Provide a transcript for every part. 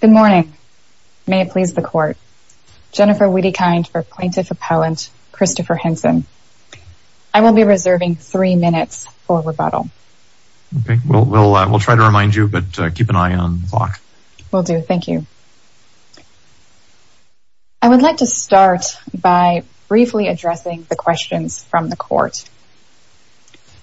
Good morning. May it please the court. Jennifer Wiedekind for Plaintiff Appellant Christopher Henson. I will be reserving three minutes for rebuttal. We'll try to remind you, but keep an eye on the clock. Will do. Thank you. I would like to start by briefly addressing the questions from the court.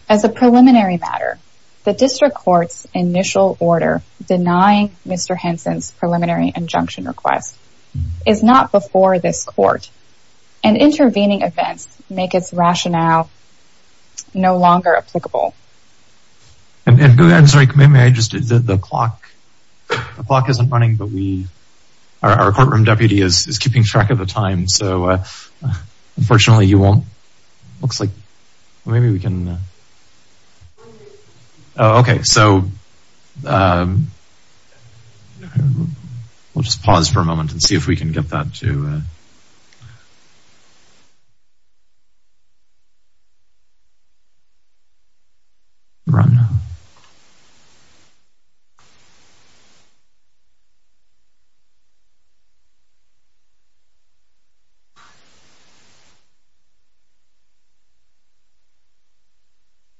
As a preliminary matter, the district court's initial order denying Mr. Henson's preliminary injunction request is not before this court, and intervening events make its rationale no longer applicable. The clock isn't running, but our courtroom deputy is keeping track of the time, so unfortunately he won't... Looks like maybe we can... Okay, so... We'll just pause for a moment and see if we can get that to... Run.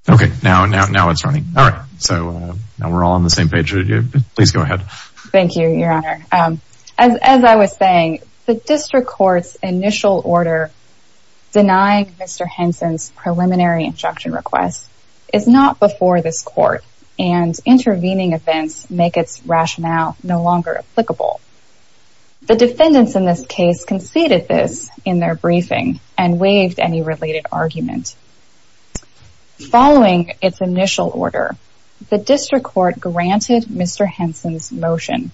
Okay, now it's running. All right, so now we're all on the same page. Please go ahead. Thank you, Your Honor. As I was saying, the district court's initial order denying Mr. Henson's preliminary injunction request is not before this court, and intervening events make its rationale no longer applicable. The defendants in this case conceded this in their briefing and waived any related argument. Following its initial order, the district court granted Mr. Henson's motion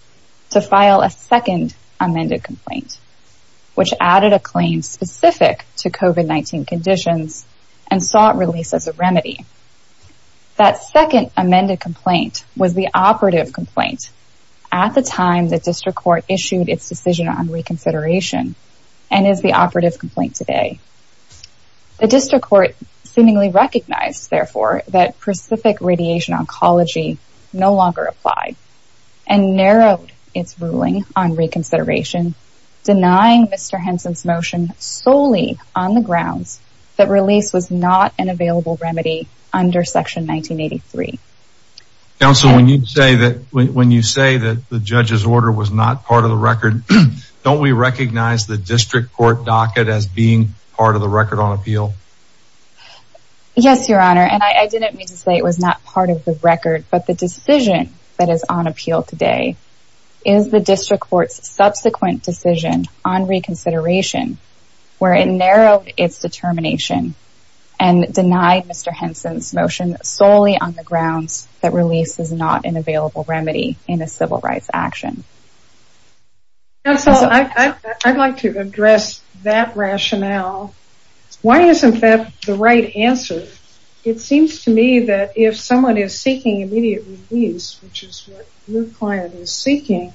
to file a second amended complaint, which added a claim specific to COVID-19 conditions and saw it released as a remedy. That second amended complaint was the operative complaint at the time the district court issued its decision on reconsideration and is the operative complaint today. The district court seemingly recognized, therefore, that specific radiation oncology no longer applied and narrowed its ruling on reconsideration, denying Mr. Henson's motion solely on the grounds that release was not an available remedy under Section 1983. Counsel, when you say that the judge's order was not part of the record, don't we recognize the district court docket as being part of the record on appeal? Yes, Your Honor, and I didn't mean to say it was not part of the record, but the decision that is on appeal today is the district court's subsequent decision on reconsideration where it narrowed its determination and denied Mr. Henson's motion solely on the grounds that release is not an available remedy in a civil rights action. Counsel, I'd like to address that rationale. Why isn't that the right answer? It seems to me that if someone is seeking immediate release, which is what your client is seeking,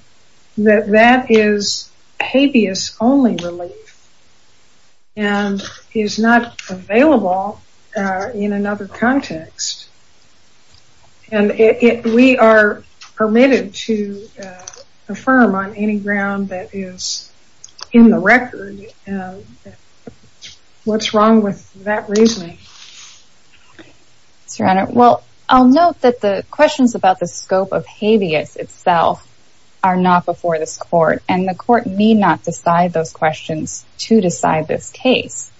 that that is habeas only relief and is not available in another context. And we are permitted to affirm on any ground that is in the record what's wrong with that reasoning. Yes, Your Honor. Well, I'll note that the questions about the scope of habeas itself are not before this court, and the court need not decide those questions to decide this case.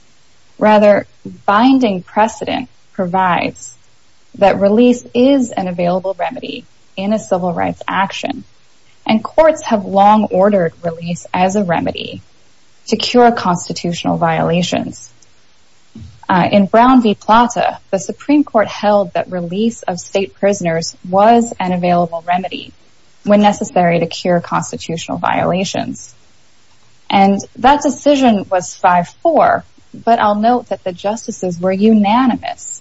Rather, binding precedent provides that release is an available remedy in a civil rights action, and courts have long ordered release as a remedy to cure constitutional violations. In Brown v. Plata, the Supreme Court held that release of state prisoners was an available remedy when necessary to cure constitutional violations. And that decision was 5-4, but I'll note that the justices were unanimous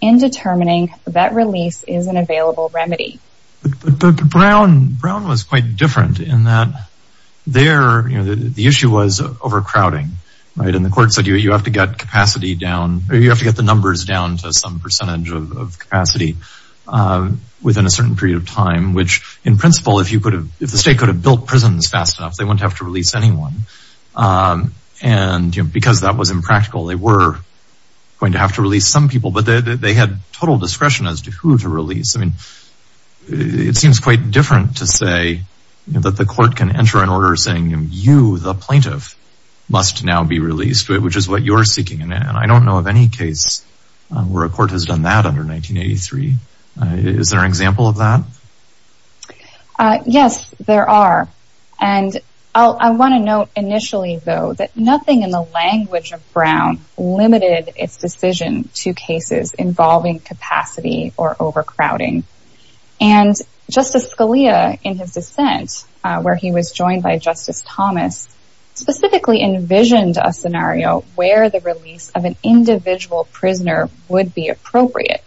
in determining that release is an available remedy. But Brown was quite different in that there, you know, the issue was overcrowding, right? And the court said, you have to get capacity down, or you have to get the numbers down to some percentage of capacity within a certain period of time, which, in principle, if the state could have built prisons fast enough, they wouldn't have to release anyone. And, you know, because that was impractical, they were going to have to release some people, but they had total discretion as to who to release. I mean, it seems quite different to say that the court can enter an order saying, you, the plaintiff, must now be released, which is what you're seeking. And I don't know of any case where a court has done that under 1983. Is there an example of that? Yes, there are. And I want to note initially, though, that nothing in the language of Brown limited its decision to cases involving capacity or overcrowding. And Justice Scalia, in his dissent, where he was joined by Justice Thomas, specifically envisioned a scenario where the release of an individual prisoner would be appropriate.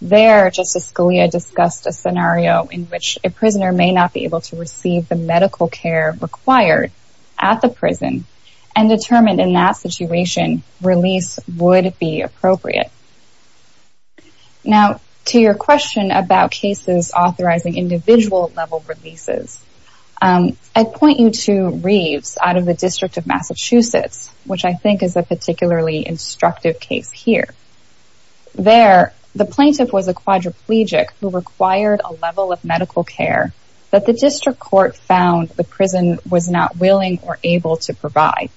There, Justice Scalia discussed a scenario in which a prisoner may not be able to receive the medical care required at the prison and determined in that situation release would be appropriate. Now, to your question about cases authorizing individual-level releases, I'd point you to Reeves out of the District of Massachusetts, which I think is a particularly instructive case here. There, the plaintiff was a quadriplegic who required a level of medical care that the district court found the prison was not willing or able to provide.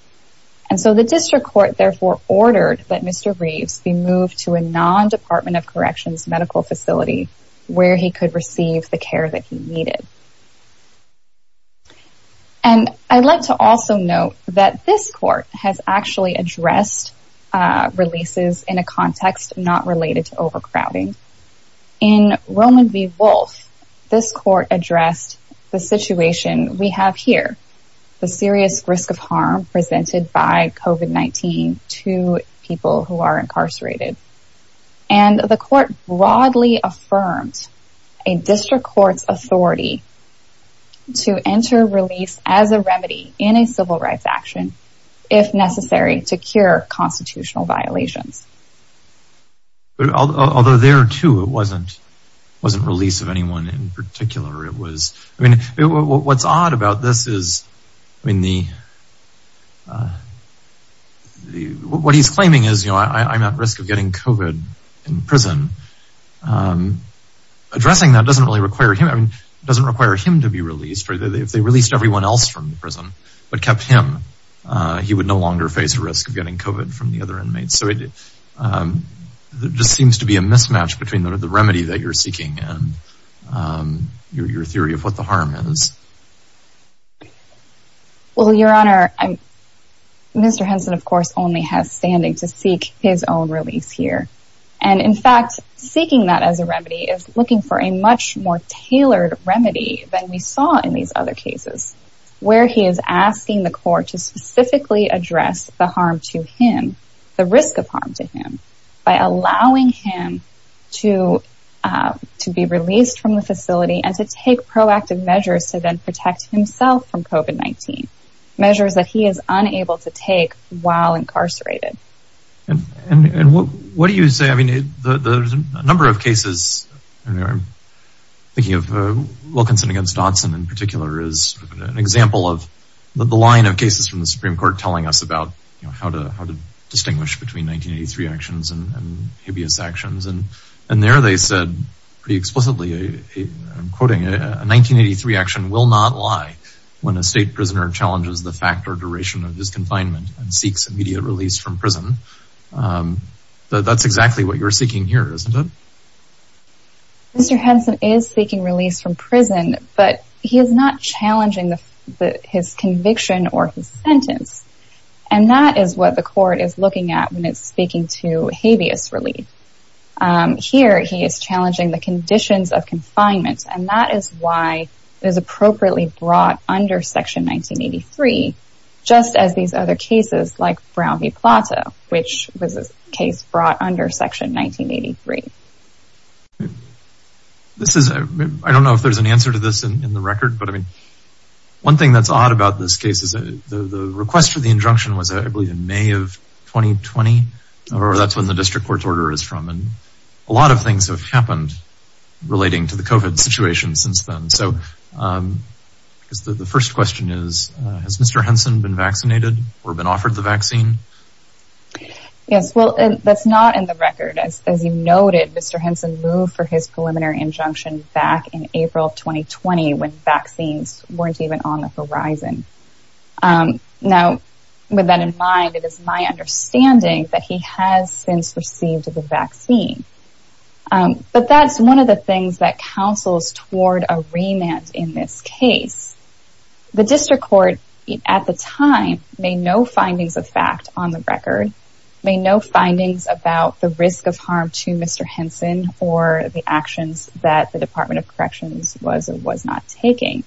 And so the district court therefore ordered that Mr. Reeves be moved to a non-Department of Corrections medical facility where he could receive the care that he needed. And I'd like to also note that this court has actually addressed releases in a context not related to overcrowding. In Roman v. Wolfe, this court addressed the situation we have here, the serious risk of harm presented by COVID-19 to people who are incarcerated. And the court broadly affirmed a district court's authority to enter release as a remedy in a civil rights action if necessary to cure constitutional violations. Although there, too, it wasn't release of anyone in particular. What's odd about this is what he's claiming is I'm at risk of getting COVID in prison. Addressing that doesn't really require him to be released. If they released everyone else from the prison but kept him, he would no longer face the risk of getting COVID from the other inmates. So it just seems to be a mismatch between the remedy that you're seeking and your theory of what the harm is. Well, Your Honor, Mr. Henson, of course, only has standing to seek his own release here. And, in fact, seeking that as a remedy is looking for a much more tailored remedy than we saw in these other cases where he is asking the court to specifically address the harm to him, the risk of harm to him, by allowing him to be released from the facility and to take proactive measures to then protect himself from COVID-19, measures that he is unable to take while incarcerated. And what do you say? I mean, there's a number of cases. I'm thinking of Wilkinson against Dawson in particular is an example of the line of cases from the Supreme Court telling us about how to distinguish between 1983 actions and hideous actions. And there they said pretty explicitly, I'm quoting, a 1983 action will not lie when a state prisoner challenges the fact or duration of his confinement and seeks immediate release from prison. That's exactly what you're seeking here, isn't it? Mr. Henson is seeking release from prison, but he is not challenging his conviction or his sentence. And that is what the court is looking at when it's speaking to hideous relief. Here he is challenging the conditions of confinement, and that is why it is appropriately brought under Section 1983, just as these other cases like Brown v. Plato, which was a case brought under Section 1983. I don't know if there's an answer to this in the record, but I mean, one thing that's odd about this case is that the request for the injunction was, I believe, in May of 2020, or that's when the district court's order is from. And a lot of things have happened relating to the COVID situation since then. So the first question is, has Mr. Henson been vaccinated or been offered the vaccine? Yes, well, that's not in the record. As you noted, Mr. Henson moved for his preliminary injunction back in April of 2020 when vaccines weren't even on the horizon. Now, with that in mind, it is my understanding that he has since received the vaccine. But that's one of the things that counsels toward a remand in this case. The district court, at the time, made no findings of fact on the record, made no findings about the risk of harm to Mr. Henson or the actions that the Department of Corrections was and was not taking.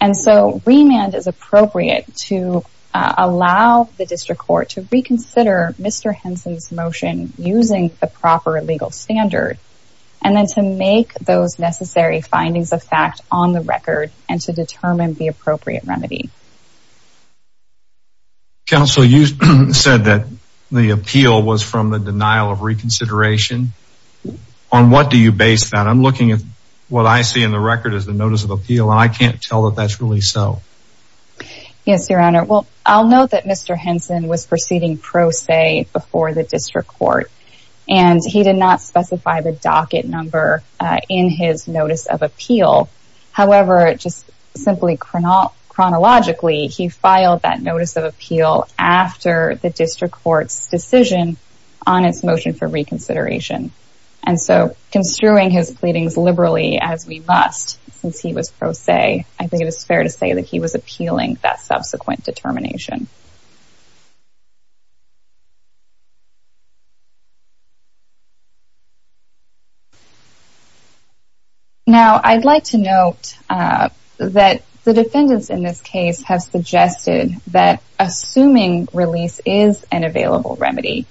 And so remand is appropriate to allow the district court to reconsider Mr. Henson's motion using the proper legal standard and then to make those necessary findings of fact on the record and to determine the appropriate remedy. Counsel, you said that the appeal was from the denial of reconsideration. On what do you base that? I'm looking at what I see in the record as the notice of appeal, and I can't tell that that's really so. Yes, Your Honor. Well, I'll note that Mr. Henson was proceeding pro se before the district court, and he did not specify the docket number in his notice of appeal. However, just simply chronologically, he filed that notice of appeal after the district court's decision on its motion for reconsideration. And so construing his pleadings liberally, as we must, since he was pro se, I think it is fair to say that he was appealing that subsequent determination. Now, I'd like to note that the defendants in this case have suggested that assuming release is an available remedy,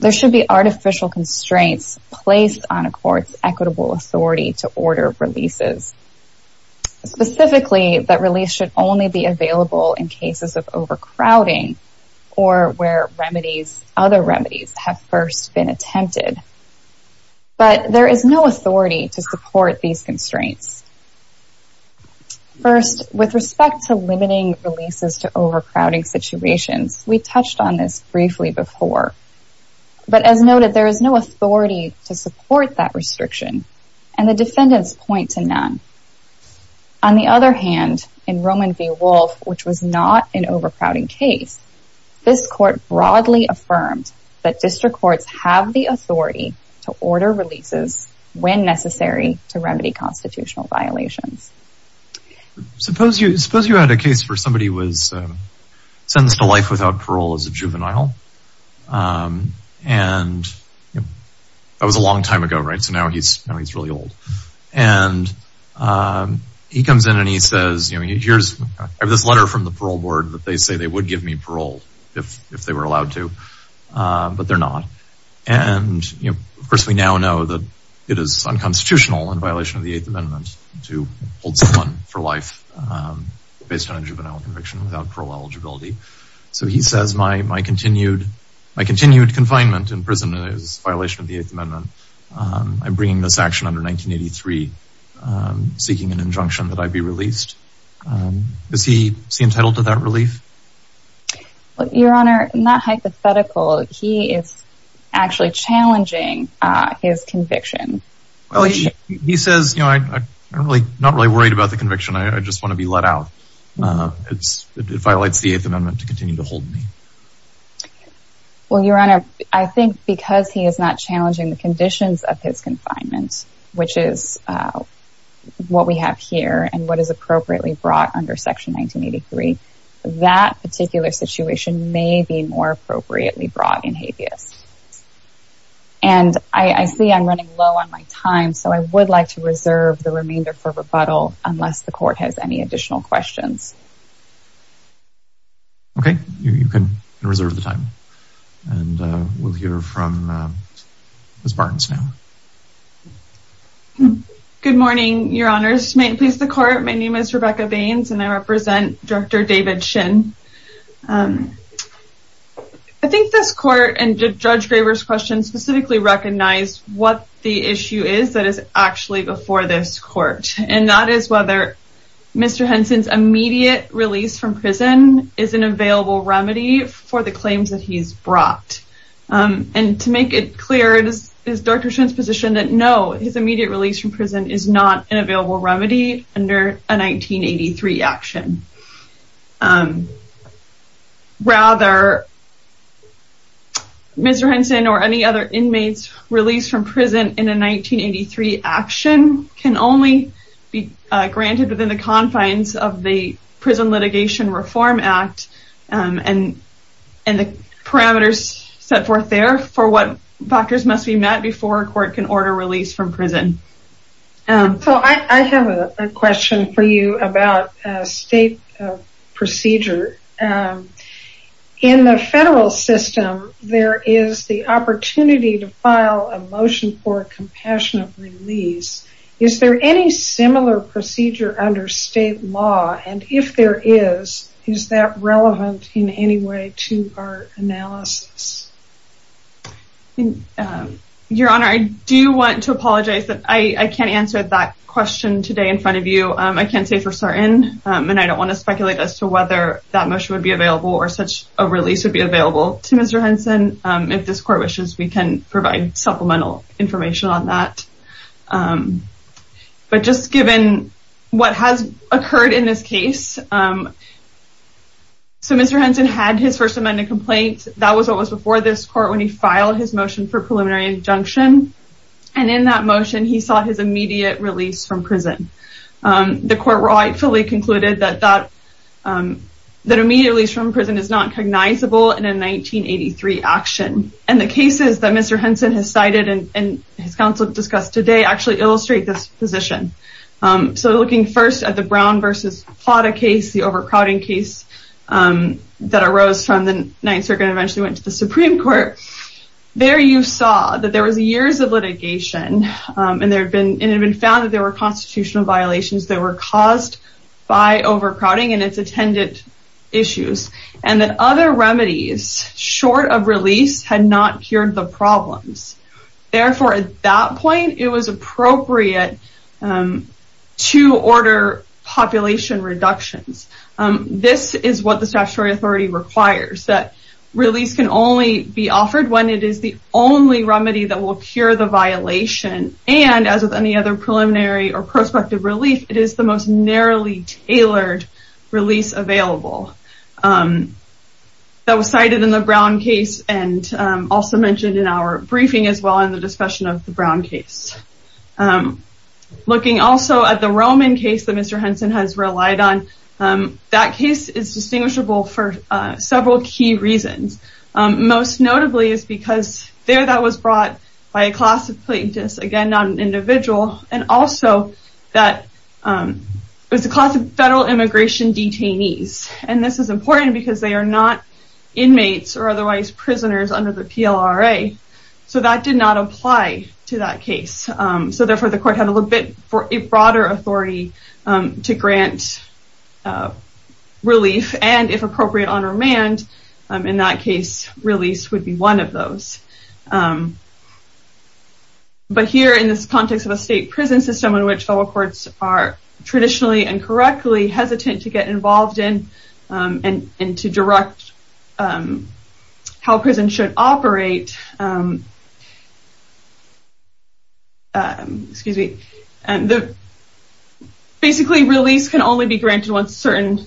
there should be artificial constraints placed on a court's equitable authority to order releases. Specifically, that release should only be available in cases of overcrowding. or where other remedies have first been attempted. But there is no authority to support these constraints. First, with respect to limiting releases to overcrowding situations, we touched on this briefly before. But as noted, there is no authority to support that restriction, and the defendants point to none. On the other hand, in Roman v. Wolfe, which was not an overcrowding case, this court broadly affirmed that district courts have the authority to order releases when necessary to remedy constitutional violations. Suppose you had a case for somebody who was sentenced to life without parole as a juvenile. And that was a long time ago, right? So now he's really old. And he comes in and he says, I have this letter from the parole board that they say they would give me parole if they were allowed to, but they're not. And, of course, we now know that it is unconstitutional in violation of the Eighth Amendment to hold someone for life based on a juvenile conviction without parole eligibility. So he says, my continued confinement in prison is a violation of the Eighth Amendment. I'm bringing this action under 1983, seeking an injunction that I be released. Is he entitled to that relief? Your Honor, not hypothetical. He is actually challenging his conviction. He says, I'm not really worried about the conviction. I just want to be let out. It violates the Eighth Amendment to continue to hold me. Well, Your Honor, I think because he is not challenging the conditions of his confinement, which is what we have here and what is appropriately brought under Section 1983, that particular situation may be more appropriately brought in habeas. And I see I'm running low on my time, so I would like to reserve the remainder for rebuttal unless the court has any additional questions. Okay, you can reserve the time. And we'll hear from Ms. Barnes now. Good morning, Your Honors. May it please the Court, my name is Rebecca Baines and I represent Director David Shin. I think this Court and Judge Graber's question specifically recognize what the issue is that is actually before this Court. And that is whether Mr. Henson's immediate release from prison is an available remedy for the claims that he's brought. And to make it clear, it is Dr. Shin's position that no, his immediate release from prison is not an available remedy under a 1983 action. Rather, Mr. Henson or any other inmate's release from prison in a 1983 action can only be granted within the confines of the Prison Litigation Reform Act and the parameters set forth there for what factors must be met before a court can order release from prison. So I have a question for you about state procedure. In the federal system, there is the opportunity to file a motion for a compassionate release. Is there any similar procedure under state law? And if there is, is that relevant in any way to our analysis? Your Honor, I do want to apologize that I can't answer that question today in front of you. I can't say for certain, and I don't want to speculate as to whether that motion would be available or such a release would be available to Mr. Henson. If this court wishes, we can provide supplemental information on that. But just given what has occurred in this case, so Mr. Henson had his First Amendment complaint. That was what was before this court when he filed his motion for preliminary injunction. And in that motion, he sought his immediate release from prison. The court rightfully concluded that that immediate release from prison is not cognizable in a 1983 action. And the cases that Mr. Henson has cited and his counsel discussed today actually illustrate this position. So looking first at the Brown v. Plata case, the overcrowding case that arose from the Ninth Circuit and eventually went to the Supreme Court, there you saw that there was years of litigation, and it had been found that there were constitutional violations that were caused by overcrowding and its attendant issues. And that other remedies short of release had not cured the problems. Therefore, at that point, it was appropriate to order population reductions. This is what the statutory authority requires, that release can only be offered when it is the only remedy that will cure the violation. And as with any other preliminary or prospective relief, it is the most narrowly tailored release available. That was cited in the Brown case and also mentioned in our briefing as well in the discussion of the Brown case. Looking also at the Roman case that Mr. Henson has relied on, that case is distinguishable for several key reasons. Most notably is because there that was brought by a class of plaintiffs, again, not an individual, and also that it was a class of federal immigration detainees. And this is important because they are not inmates or otherwise prisoners under the PLRA. So that did not apply to that case. So therefore, the court had a little bit broader authority to grant relief and, if appropriate, on remand. In that case, release would be one of those. But here, in this context of a state prison system in which federal courts are traditionally and correctly hesitant to get involved in and to direct how prisons should operate, basically release can only be granted once certain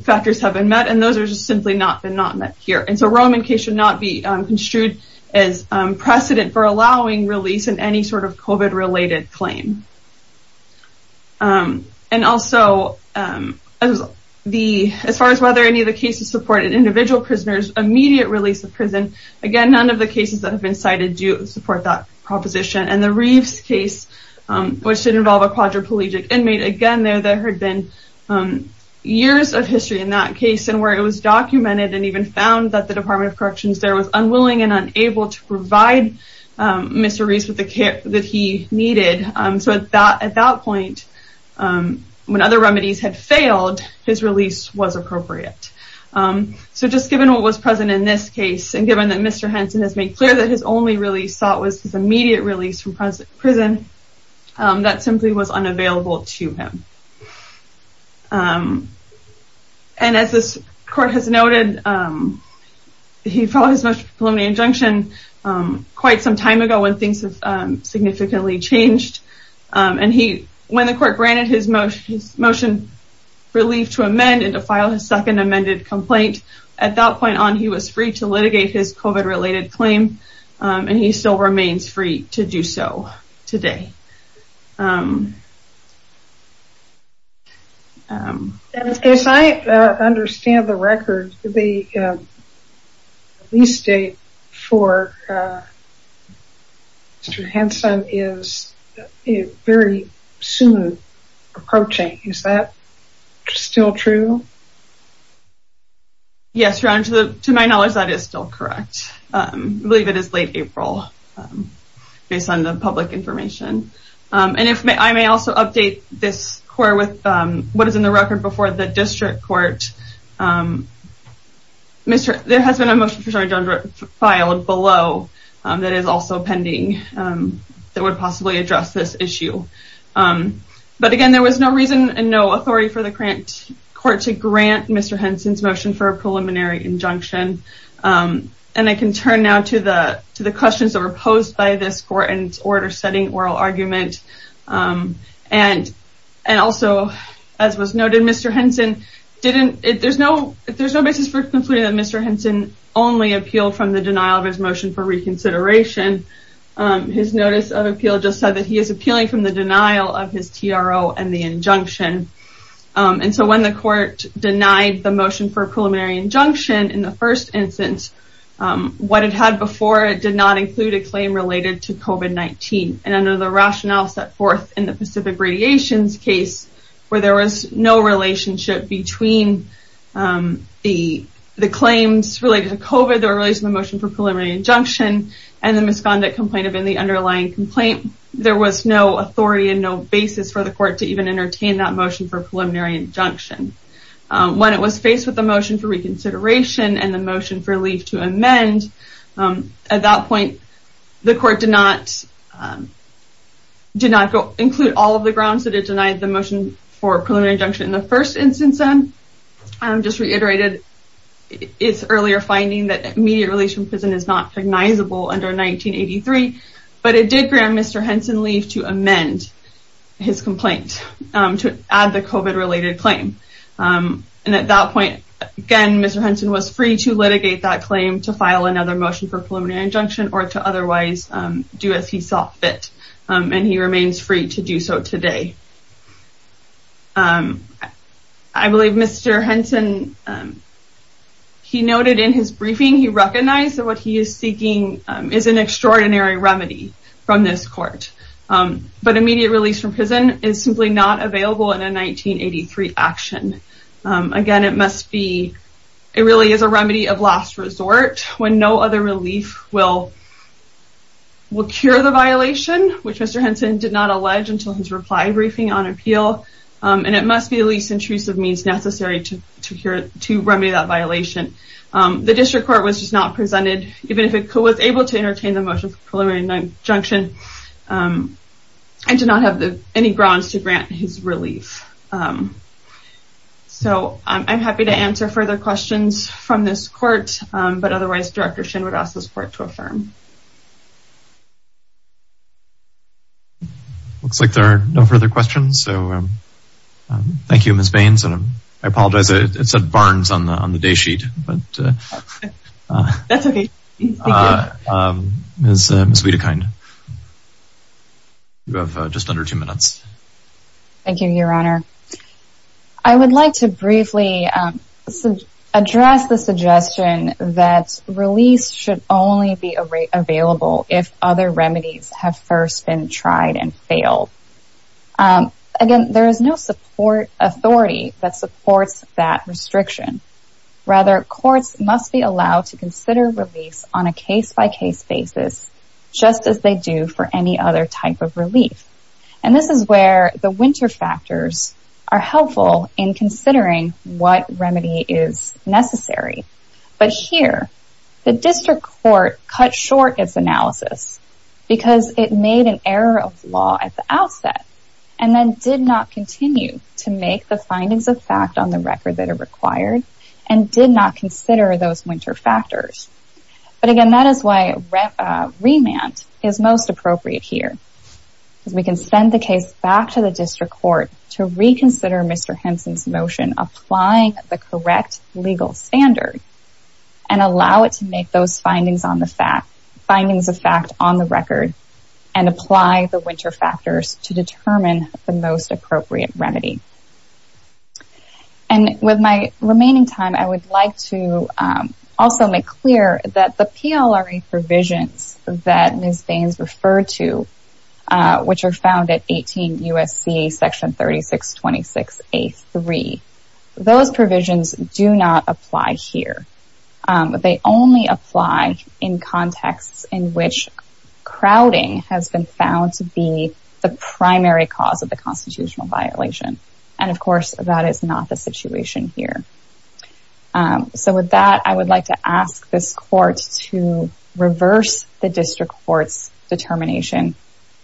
factors have been met, and those have simply not been met here. And so Roman case should not be construed as precedent for allowing release in any sort of COVID-related claim. And also, as far as whether any of the cases supported individual prisoners, immediate release of prison, again, none of the cases that have been cited do support that proposition. And the Reeves case, which did involve a quadriplegic inmate, again, there had been years of history in that case and where it was documented and even found that the Department of Corrections there was unwilling and unable to provide Mr. Reeves with the care that he needed. So at that point, when other remedies had failed, his release was appropriate. So just given what was present in this case and given that Mr. Henson has made clear that his only release thought was his immediate release from prison, that simply was unavailable to him. And as this court has noted, he filed his most preliminary injunction quite some time ago when things have significantly changed. And when the court granted his motion relief to amend and to file his second amended complaint, at that point on he was free to litigate his COVID-related claim, and he still remains free to do so today. As I understand the record, the release date for Mr. Henson is very soon approaching. Is that still true? Yes, Ron, to my knowledge, that is still correct. I believe it is late April, based on the public information. I may also update this court with what is in the record before the district court. There has been a motion filed below that is also pending that would possibly address this issue. But again, there was no reason and no authority for the court to grant Mr. Henson's motion for a preliminary injunction. And I can turn now to the questions that were posed by this court in its order setting oral argument. And also, as was noted, Mr. Henson didn't, there's no basis for concluding that Mr. Henson only appealed from the denial of his motion for reconsideration. His notice of appeal just said that he is appealing from the denial of his TRO and the injunction. And so when the court denied the motion for a preliminary injunction in the first instance, what it had before, it did not include a claim related to COVID-19. And under the rationale set forth in the Pacific Radiations case, where there was no relationship between the claims related to COVID that were related to the motion for preliminary injunction and the misconduct complaint within the underlying complaint, there was no authority and no basis for the court to even entertain that motion for preliminary injunction. When it was faced with the motion for reconsideration and the motion for leave to amend, at that point, the court did not include all of the grounds that it denied the motion for preliminary injunction in the first instance. I just reiterated its earlier finding that immediate release from prison is not recognizable under 1983, but it did grant Mr. Henson leave to amend his complaint to add the COVID-related claim. And at that point, again, Mr. Henson was free to litigate that claim to file another motion for preliminary injunction or to otherwise do as he saw fit. And he remains free to do so today. I believe Mr. Henson, he noted in his briefing, he recognized that what he is seeking is an extraordinary remedy from this court. But immediate release from prison is simply not available in a 1983 action. Again, it must be, it really is a remedy of last resort when no other relief will cure the violation, which Mr. Henson did not allege until his reply briefing on appeal. And it must be the least intrusive means necessary to remedy that violation. The district court was just not presented, even if it was able to entertain the motion for preliminary injunction, and did not have any grounds to grant his relief. So I'm happy to answer further questions from this court, but otherwise Director Shin would ask this court to affirm. Looks like there are no further questions. So thank you, Ms. Baines. And I apologize, it said Barnes on the day sheet. That's okay. Ms. Wedekind, you have just under two minutes. Thank you, Your Honor. I would like to briefly address the suggestion that release should only be available if other remedies have first been tried and failed. Again, there is no support authority that supports that restriction. Rather, courts must be allowed to consider release on a case-by-case basis just as they do for any other type of relief. And this is where the winter factors are helpful in considering what remedy is necessary. But here, the district court cut short its analysis because it made an error of law at the outset and then did not continue to make the findings of fact on the record that are required and did not consider those winter factors. But again, that is why remand is most appropriate here. We can send the case back to the district court to reconsider Mr. Henson's motion applying the correct legal standard and allow it to make those findings of fact on the record and apply the winter factors to determine the most appropriate remedy. And with my remaining time, I would like to also make clear that the PLRA provisions that Ms. Baines referred to, which are found at 18 U.S.C. section 3626A.3, those provisions do not apply here. They only apply in contexts in which crowding has been found to be the primary cause of the constitutional violation. And of course, that is not the situation here. So with that, I would like to ask this court to reverse the district court's determination,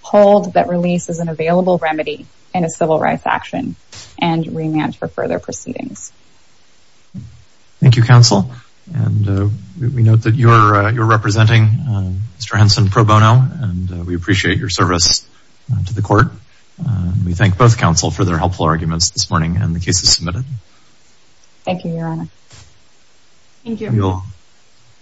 hold that release is an available remedy in a civil rights action, and remand for further proceedings. Thank you, counsel. And we note that you're representing Mr. Henson pro bono, and we appreciate your service to the court. We thank both counsel for their helpful arguments this morning and the cases submitted. Thank you, Your Honor. Thank you.